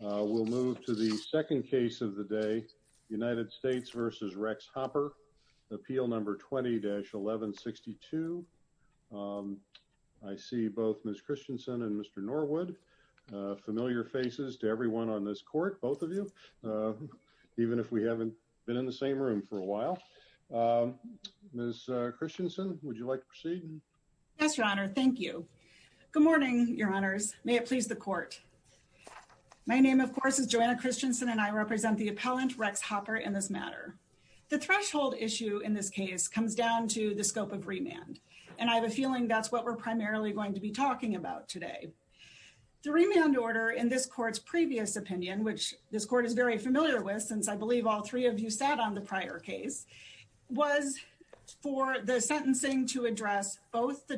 We'll move to the second case of the day. United States versus Rex Hopper appeal number 20-1162. Um, I see both Miss Christensen and Mr Norwood, uh, familiar faces to everyone on this court. Both of you. Uh, even if we haven't been in the same room for a while. Um, Miss Christensen, would you like to proceed? Yes, Your Honor. Thank you. Good morning, Your Honors. May it please the court. My name, of course, is Joanna Christensen, and I represent the appellant Rex Hopper in this matter. The threshold issue in this case comes down to the scope of remand, and I have a feeling that's what we're primarily going to be talking about today. The remand order in this court's previous opinion, which this court is very familiar with, since I believe all three of you sat on the prior case, was for the sentencing to address both the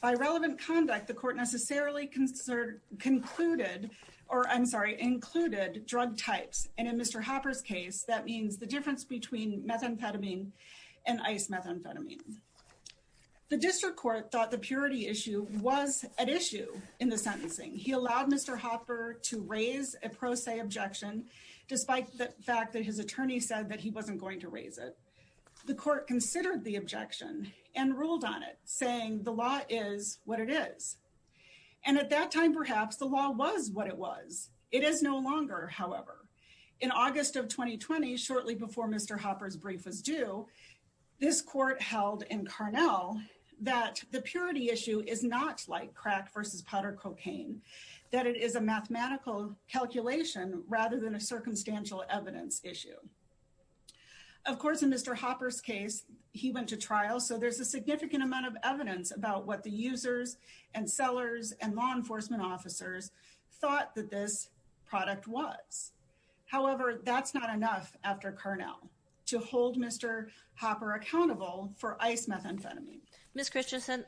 By relevant conduct, the court necessarily concerned concluded or I'm sorry, included drug types. And in Mr Hopper's case, that means the difference between methamphetamine and ice methamphetamine. The district court thought the purity issue was at issue in the sentencing. He allowed Mr Hopper to raise a pro se objection, despite the fact that his attorney said that he wasn't going to raise it. The court considered the objection and the law is what it is. And at that time, perhaps the law was what it was. It is no longer, however, in August of 2020, shortly before Mr Hopper's brief was due, this court held in Carnell that the purity issue is not like crack versus powder cocaine, that it is a mathematical calculation rather than a circumstantial evidence issue. Of course, in Mr Hopper's case, he went to trial, so there's a significant amount of evidence about what the users and sellers and law enforcement officers thought that this product was. However, that's not enough after Carnell to hold Mr Hopper accountable for ice methamphetamine. Miss Christensen,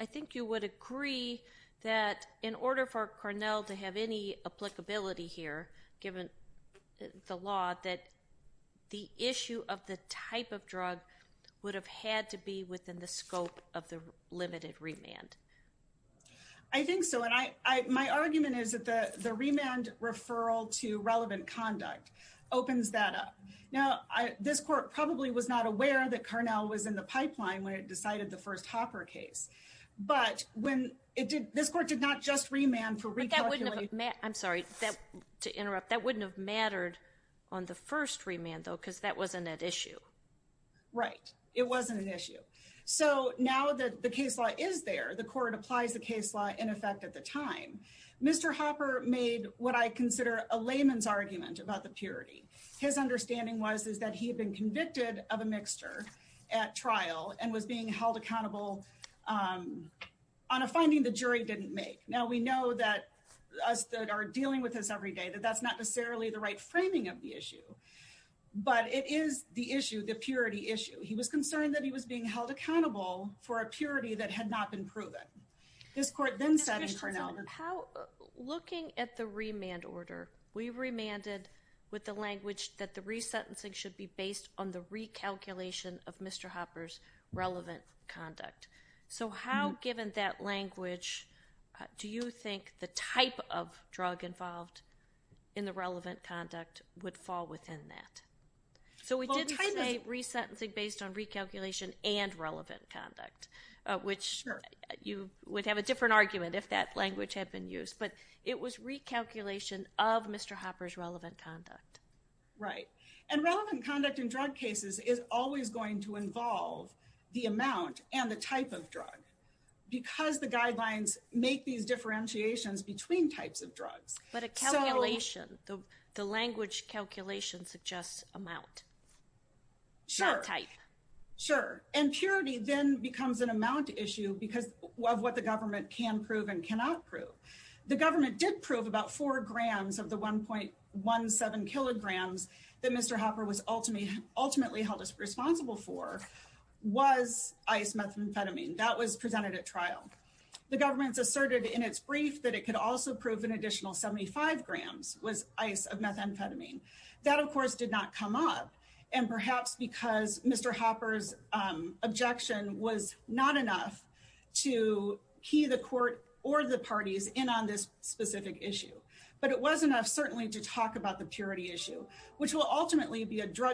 I think you would agree that in order for Carnell to have any applicability here, given the law that the issue of the type of drug would have had to be within the scope of the limited remand. I think so. And I my argument is that the remand referral to relevant conduct opens that up. Now, this court probably was not aware that Carnell was in the pipeline when it decided the first Hopper case. But when it did, this court did not just remand for recap. I'm sorry to interrupt. That wouldn't have mattered on the first remand, though, because that wasn't an issue, right? It wasn't an issue. So now that the case law is there, the court applies the case law in effect. At the time, Mr Hopper made what I consider a layman's argument about the purity. His understanding was, is that he had been convicted of a mixture at trial and was being held accountable, um, on a finding the jury didn't make. Now we know that us that are dealing with this every day that that's not necessarily the right framing of the issue. But it is the issue. The purity issue. He was concerned that he was being held accountable for a purity that had not been proven. This court then said, how looking at the remand order, we remanded with the language that the resentencing should be based on the recalculation of Mr Hopper's relevant conduct. So how, given that language, do you think the type of drug involved in the relevant conduct would fall within that? So we did say resentencing based on recalculation and relevant conduct, which you would have a different argument if that language had been used. But it was recalculation of Mr. Hopper's relevant conduct. Right. And relevant conduct in drug cases is always going to involve the amount and the type of drug. Because the guidelines make these differentiations between types of drugs. But a calculation, the language calculation suggests amount. Sure, type. Sure. And purity then becomes an amount issue because of what the government can prove and cannot prove. The government did prove about four grams of the 1.17 kilograms that Mr Hopper was ultimately ultimately responsible for was ice methamphetamine that was presented at trial. The government asserted in its brief that it could also prove an additional 75 grams was ice of methamphetamine. That, of course, did not come up. And perhaps because Mr Hopper's objection was not enough to key the court or the parties in on this specific issue. But it was enough certainly to talk about the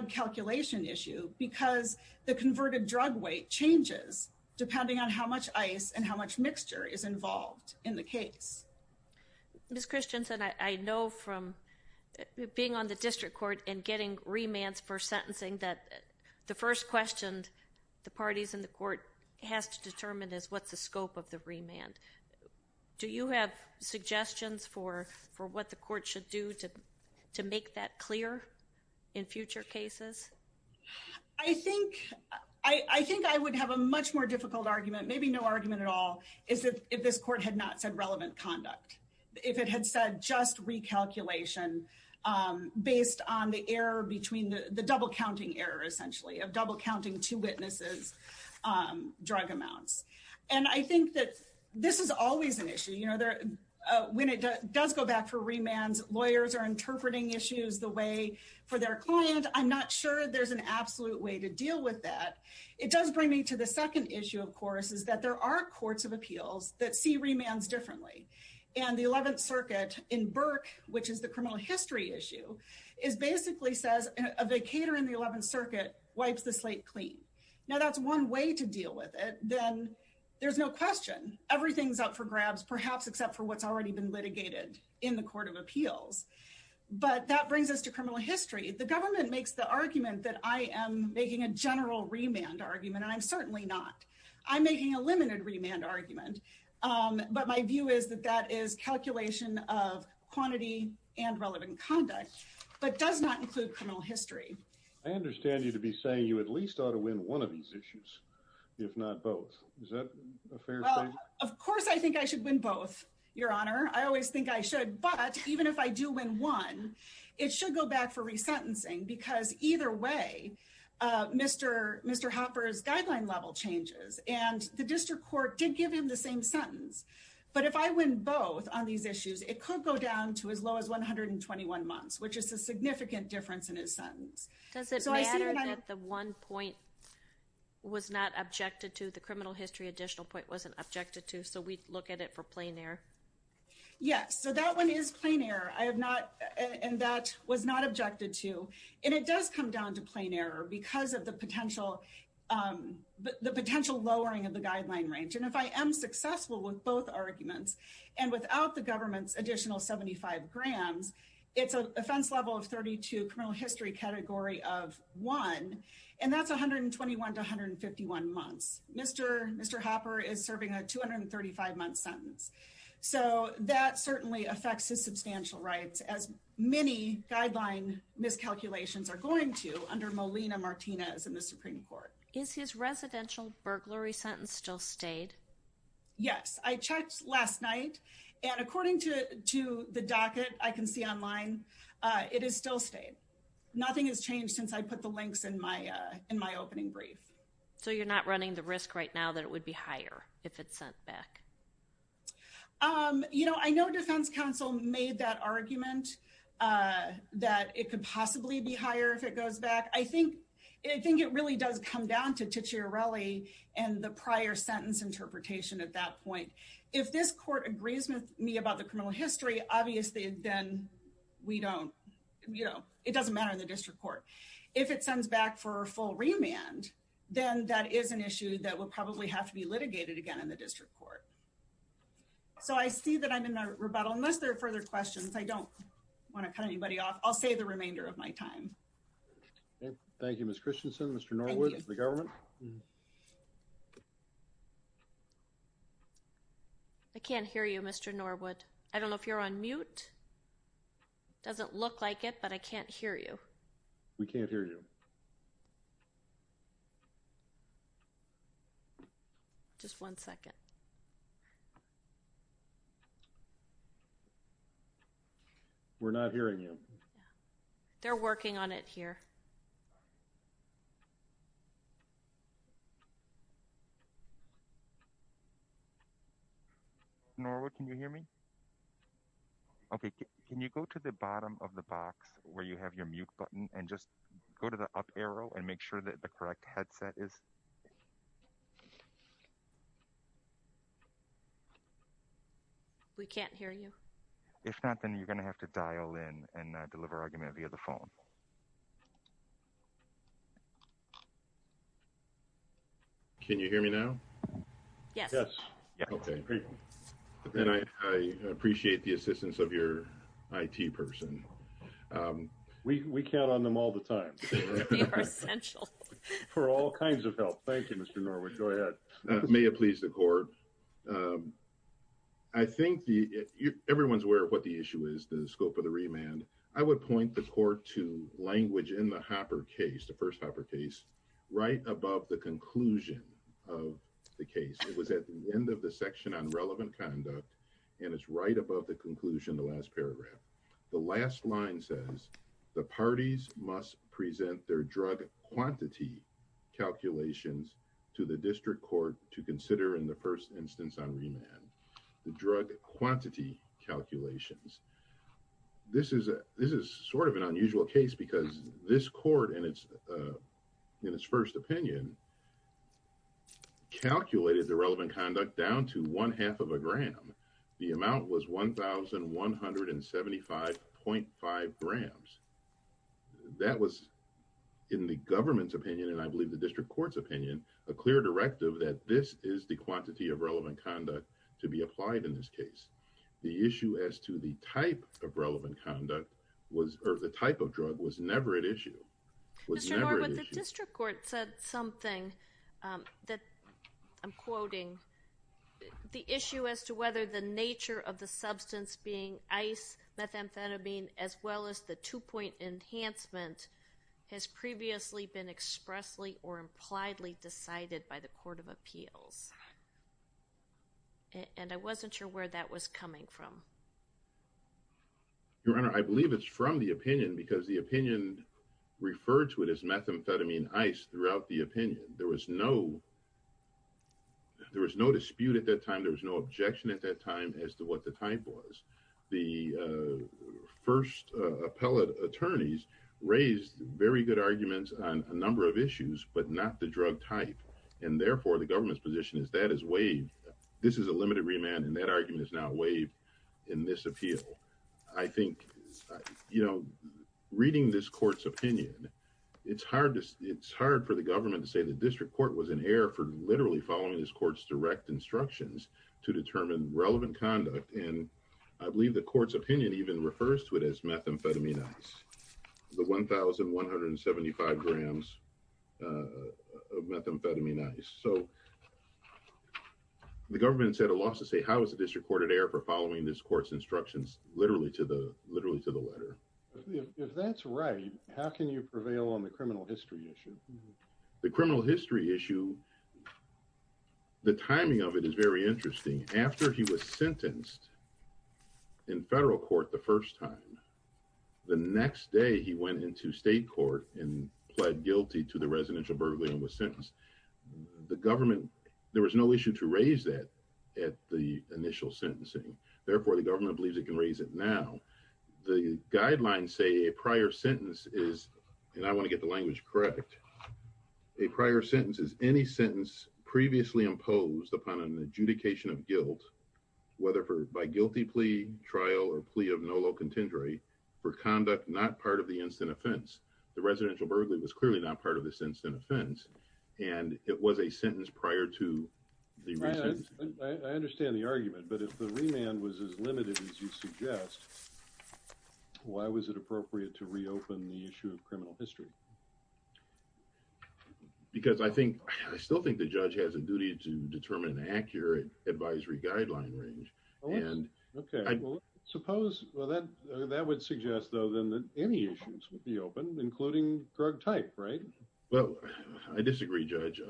calculation issue because the converted drug weight changes depending on how much ice and how much mixture is involved in the case. Ms. Christianson, I know from being on the district court and getting remands for sentencing that the first questioned the parties in the court has to determine is what's the scope of the remand. Do you have suggestions for for what the court should do to to make that clear in future cases? I think I think I would have a much more difficult argument maybe no argument at all is that if this court had not said relevant conduct if it had said just recalculation based on the error between the double counting error essentially of double counting to witnesses drug amounts. And I think that this is always an issue you know there when it does go back for remands lawyers are interpreting issues the way for their client. I'm not sure there's an absolute way to deal with that. It does bring me to the second issue of course is that there are courts of appeals that see remands differently and the 11th Circuit in Burke which is the criminal history issue is basically says a vacator in the 11th Circuit wipes the slate clean. Now that's one way to deal with it. Then there's no question everything's up for grabs perhaps except for what's already been litigated in the court of appeals. But that brings us to criminal history. The government makes the argument that I am making a general remand argument and I'm certainly not. I'm making a limited remand argument but my view is that that is calculation of quantity and relevant conduct but does not include criminal history. I understand you to be saying you at least ought to win one of these issues if not both. Of course I think I should win both your honor. I always think I should but even if I do win one it should go back for resentencing because either way Mr. Hopper's guideline level changes and the district court did give him the same sentence but if I win both on these issues it could go down to as low as 121 months which is a significant difference in his sentence. Does it matter that the one point was not objected to the criminal history additional point wasn't objected to so we look at it for plain error? Yes so that one is plain error I have not and that was not objected to and it does come down to plain error because of the potential the potential lowering of the guideline range and if I am successful with both arguments and without the government's additional 75 grams it's an offense level of 32 criminal history category of one and that's 121 to 151 months. Mr. Hopper is serving a 235 month sentence so that certainly affects his substantial rights as many guideline miscalculations are going to under Molina Martinez in the Supreme Court. Is his residential burglary sentence still stayed? Yes I checked last night and according to the docket I can see online it is still stayed nothing has changed since I put the links in my in my opening brief. So you're not running the risk right now that it would be higher if it's sent back? You know I know defense counsel made that argument that it could possibly be higher if it goes back I think I think it really does come down to Ticciarelli and the prior sentence interpretation at that point. If this court agrees with me about the criminal history obviously then we don't you know it doesn't matter in the district court. If it sends back for a full remand then that is an issue that will probably have to be litigated again in the district court. So I see that I'm in a rebuttal unless there are further questions I don't want to cut anybody off I'll save the remainder of my time. Thank you Ms. Christensen. Mr. Norwood the government. I can't hear you Mr. Norwood I don't know if you're on mute doesn't look like it but I can't hear you. We can't hear you. Just one second. We're not hearing you. They're working on it here. Norwood can you hear me? Okay can you go to the bottom of the box where you have your mute button and just go to the up arrow and make sure that the correct headset is. We can't hear you. If not then you're gonna have to dial in and can you hear me now? Yes. Okay and I appreciate the assistance of your IT person. We count on them all the time for all kinds of help. Thank you Mr. Norwood. Go ahead. May it please the court. I think the everyone's aware of what the issue is the scope of the remand. I would point the court to language in the first Hopper case right above the conclusion of the case. It was at the end of the section on relevant conduct and it's right above the conclusion the last paragraph. The last line says the parties must present their drug quantity calculations to the district court to consider in the first instance on remand. The drug quantity calculations. This is a this is sort of unusual case because this court and it's in its first opinion calculated the relevant conduct down to one half of a gram. The amount was one thousand one hundred and seventy five point five grams. That was in the government's opinion and I believe the district court's opinion a clear directive that this is the quantity of relevant conduct to be applied in this case. The issue as to the type of relevant conduct was or the type of drug was never at issue. Mr. Norwood the district court said something that I'm quoting. The issue as to whether the nature of the substance being ice methamphetamine as well as the two-point enhancement has previously been expressly or impliedly decided by the from your honor I believe it's from the opinion because the opinion referred to it as methamphetamine ice throughout the opinion there was no there was no dispute at that time there was no objection at that time as to what the type was the first appellate attorneys raised very good arguments on a number of issues but not the drug type and therefore the government's position is that is waived this is a limited remand and that argument is now waived in this appeal I think you know reading this court's opinion it's hard to it's hard for the government to say the district court was in error for literally following this court's direct instructions to determine relevant conduct and I believe the court's opinion even refers to it as methamphetamine ice the 1175 grams of methamphetamine ice so the government said a loss to say how is the district court at air for following this courts instructions literally to the literally to the letter if that's right how can you prevail on the criminal history issue the criminal history issue the timing of it is very interesting after he was sentenced in federal court the first time the next day he went into state court and pled guilty to the residential burglary and was sentenced the government there was no issue to raise that at the initial sentencing therefore the government believes it can raise it now the guidelines say a prior sentence is and I want to get the language correct a prior sentence is any sentence previously imposed upon an adjudication of guilt whether for by guilty plea trial or plea of no low contendory for conduct not part of the instant offense the residential burglary was clearly not part of this instant offense and it was a sentence prior to the reason I understand the argument but if the remand was as limited as you suggest why was it appropriate to reopen the issue of criminal history because I still think the judge has a duty to determine accurate advisory guideline range and okay suppose that that would suggest though than that any issues would be open including drug type right well I disagree judge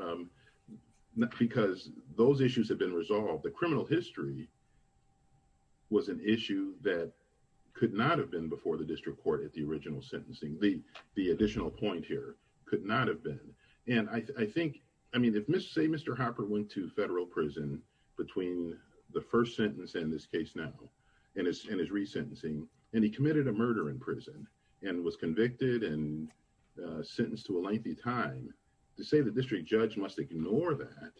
because those issues have been resolved the criminal history was an issue that could not have been before the district court at the original sentencing the the additional point here could not have been and I think I mean if mr. say mr. Hopper went to federal prison between the first sentence in this case now and it's in his resentencing and he committed a murder in prison and was convicted and sentenced to a lengthy time to say the district judge must ignore that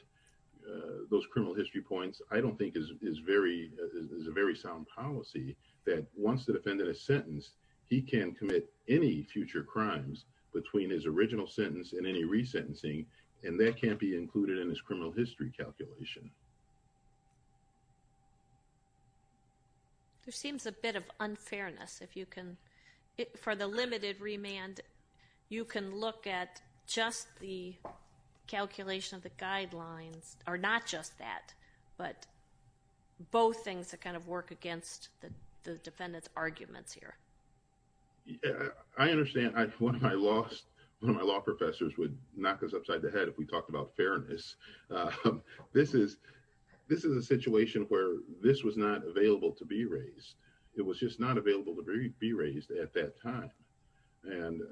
those criminal history points I don't think is very is a very sound policy that wants to defend in a sentence he can commit any future crimes between his original sentence and any resentencing and that can't be included in his criminal history calculation there seems a bit of unfairness if you can it for the limited remand you can look at just the calculation of the guidelines are not just that but both things that kind of work against the defendants arguments here I understand I lost my law professors would knock us upside the head if we talked about fairness this is this is a situation where this was not available to be raised it was just not available to be raised at that time and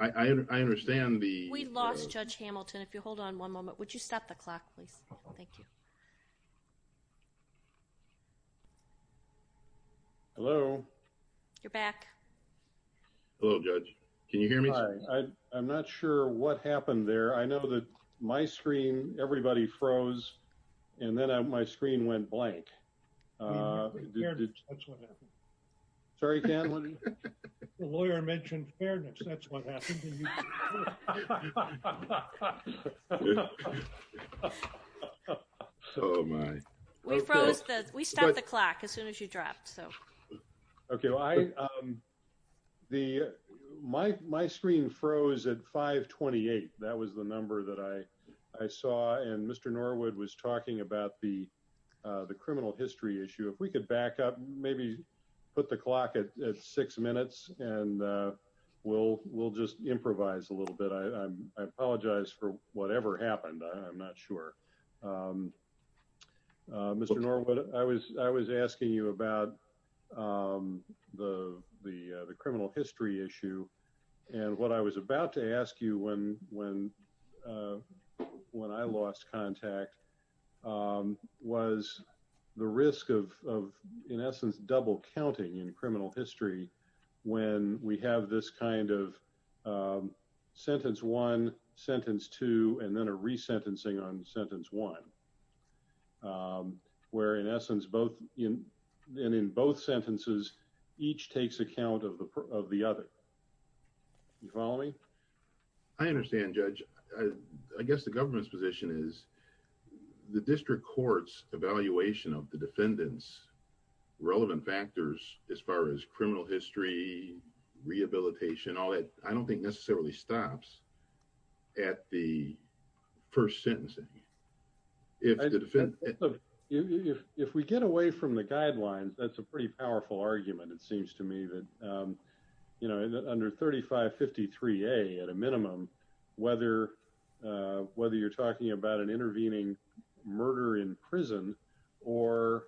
I understand the we lost judge Hamilton if you hold on one moment would you thank you hello you're back hello judge can you hear me I'm not sure what happened there I know that my screen everybody froze and then I'm my screen went blank sorry lawyer mentioned fairness that's what happened we froze that we start the clock as soon as you dropped so okay I the my screen froze at 528 that was the number that I I saw and mr. Norwood was talking about the the criminal history issue if we could back up maybe put the clock at six minutes and we'll we'll just improvise a little bit I apologize for whatever happened I'm not sure mr. Norwood I was I was asking you about the the criminal history issue and what I was about to ask you when when when I lost contact was the risk of in essence double counting in criminal history when we have this kind of sentence one sentence two and then a resentencing on sentence one where in essence both in and in both sentences each takes account of the of the other you follow me I understand judge I guess the government's position is the district courts evaluation of the defendants relevant factors as far as criminal history rehabilitation all that I don't think necessarily stops at the first if we get away from the guidelines that's a pretty powerful argument it seems to me that you know under 3553 a at a minimum whether whether you're talking about an intervening murder in prison or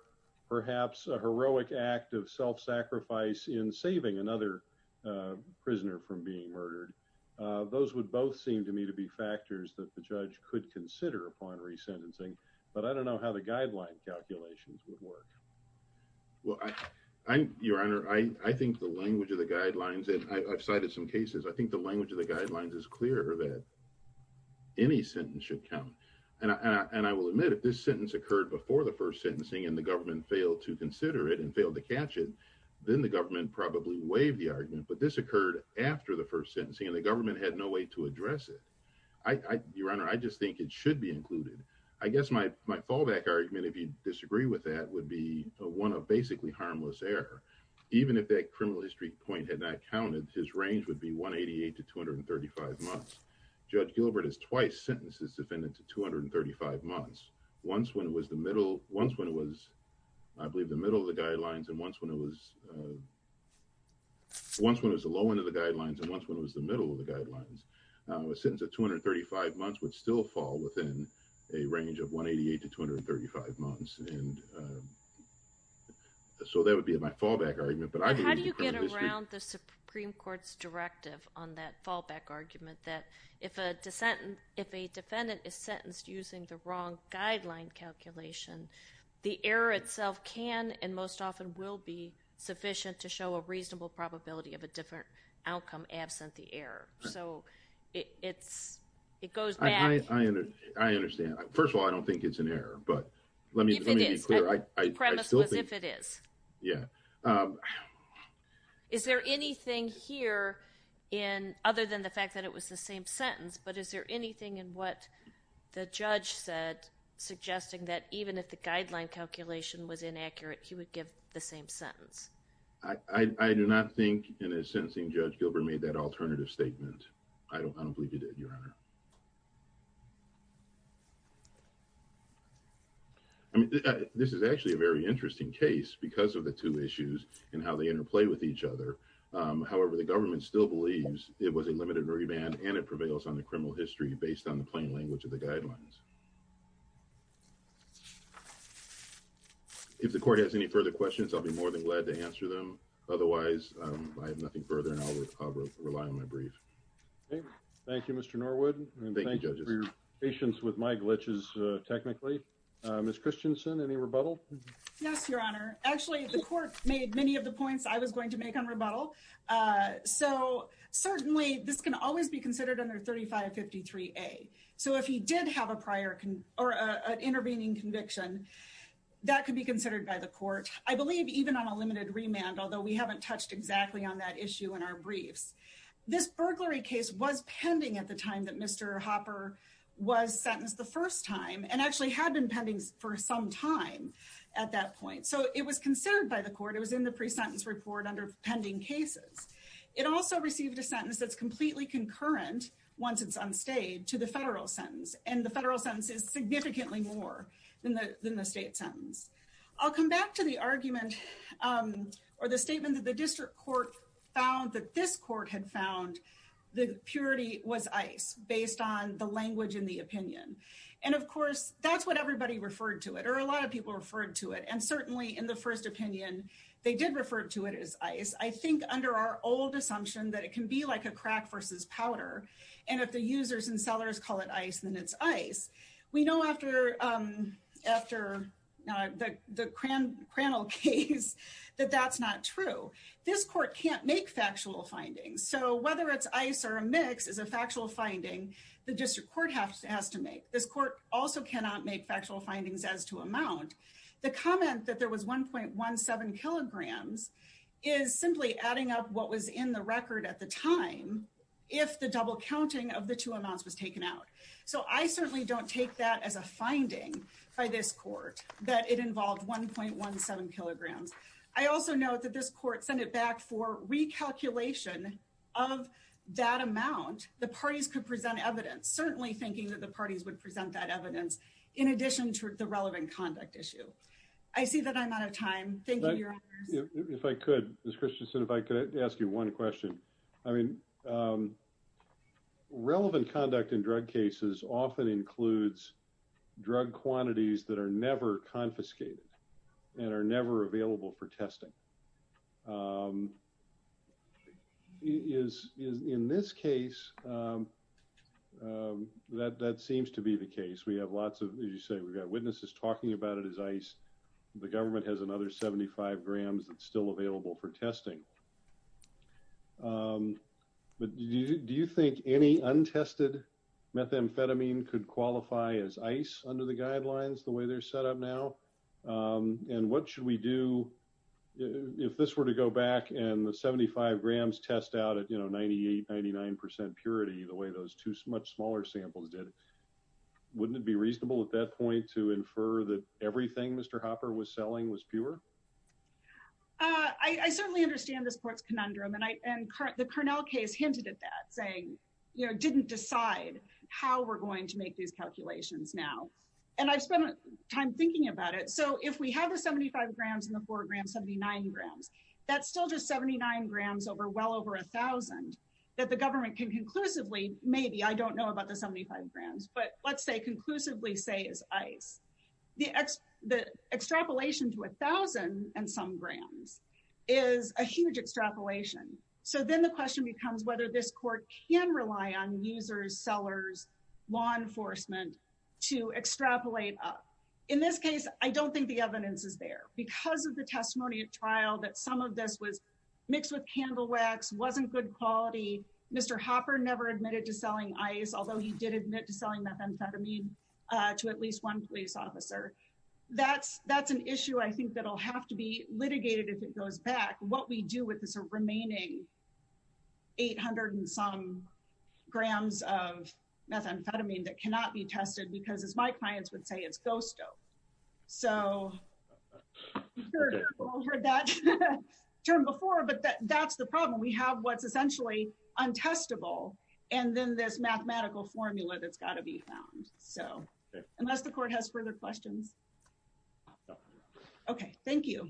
perhaps a heroic act of self sacrifice in saving another prisoner from being murdered those would both seem to me to be factors that the judge could consider upon resentencing but I don't know how the guideline calculations would work well I'm your honor I I think the language of the guidelines and I've cited some cases I think the language of the guidelines is clear that any sentence should come and I will admit if this sentence occurred before the first sentencing and the government failed to consider it and failed to catch it then the government probably waived the argument but this occurred after the first sentencing and government had no way to address it I your honor I just think it should be included I guess my my fallback argument if you disagree with that would be a one of basically harmless error even if that criminal history point had not counted his range would be 188 to 235 months judge Gilbert is twice sentences defendant to 235 months once when it was the middle once when it was I believe the middle of the guidelines and once when it was once when it was the low end of the guidelines and once when it was the middle of the guidelines a sentence of 235 months would still fall within a range of 188 to 235 months and so that would be my fallback argument but I do you get around the Supreme Court's directive on that fallback argument that if a dissentant if a defendant is sentenced using the wrong guideline calculation the error itself can and most often will be sufficient to show a reasonable probability of a different outcome absent the error so it's it goes I understand first of all I don't think it's an error but let me yeah is there anything here in other than the fact that it was the same sentence but is there anything in what the judge said suggesting that even if the guideline calculation was inaccurate he would give the same sentence I I do not think in a sentencing judge Gilbert made that alternative statement I don't believe you did your honor I mean this is actually a very interesting case because of the two issues and how they interplay with each other however the government still believes it was a limited remand and it prevails on the criminal history based on the plain language of the questions I'll be more than glad to answer them otherwise I have nothing further and I'll rely on my brief thank you mr. Norwood thank you for your patience with my glitches technically miss Christensen any rebuttal yes your honor actually the court made many of the points I was going to make on rebuttal so certainly this can always be considered under 3553 a so if he did have a prior can or an intervening conviction that could be considered by the court I believe even on a limited remand although we haven't touched exactly on that issue in our briefs this burglary case was pending at the time that mr. Hopper was sentenced the first time and actually had been pending for some time at that point so it was considered by the court it was in the pre-sentence report under pending cases it also received a sentence that's completely concurrent once it's unstayed to the federal sentence and the federal to the argument or the statement that the district court found that this court had found the purity was ice based on the language in the opinion and of course that's what everybody referred to it or a lot of people referred to it and certainly in the first opinion they did refer to it as ice I think under our old assumption that it can be like a crack versus powder and if the users and that that's not true this court can't make factual findings so whether it's ice or a mix is a factual finding the district court has to make this court also cannot make factual findings as to amount the comment that there was 1.17 kilograms is simply adding up what was in the record at the time if the double counting of the two amounts was taken out so I certainly don't take that as a I also note that this court sent it back for recalculation of that amount the parties could present evidence certainly thinking that the parties would present that evidence in addition to the relevant conduct issue I see that I'm out of time thank you if I could this Christian said if I could ask you one question I mean relevant conduct in drug cases often includes drug quantities that are never confiscated and are never available for testing is in this case that that seems to be the case we have lots of you say we've got witnesses talking about it as ice the government has another 75 grams that's still available for testing but do you think any untested methamphetamine could qualify as ice under the guidelines the way they're set up now and what should we do if this were to go back and the 75 grams test out at you know 98 99% purity the way those two much smaller samples did wouldn't it be reasonable at that point to infer that everything mr. Hopper was selling was pure I certainly understand this court's conundrum and I and the Cornell case hinted at that didn't decide how we're going to make these calculations now and I spent time thinking about it so if we have a 75 grams in the foreground 79 grams that's still just 79 grams over well over a thousand that the government can conclusively maybe I don't know about the 75 grams but let's say conclusively say is ice the X the extrapolation to a thousand and some grams is a huge extrapolation so then the question becomes whether this court can rely on users sellers law enforcement to extrapolate up in this case I don't think the evidence is there because of the testimony at trial that some of this was mixed with candle wax wasn't good quality mr. Hopper never admitted to selling ice although he did admit to selling methamphetamine to at least one police officer that's that's an issue I think that'll have to be litigated if it is a remaining 800 and some grams of methamphetamine that cannot be tested because as my clients would say it's ghost oh so turn before but that's the problem we have what's essentially untestable and then this mathematical formula that's got to be found so unless the court has further questions okay thank you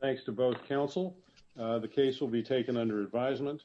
thanks to both counsel the case will be taken under advisement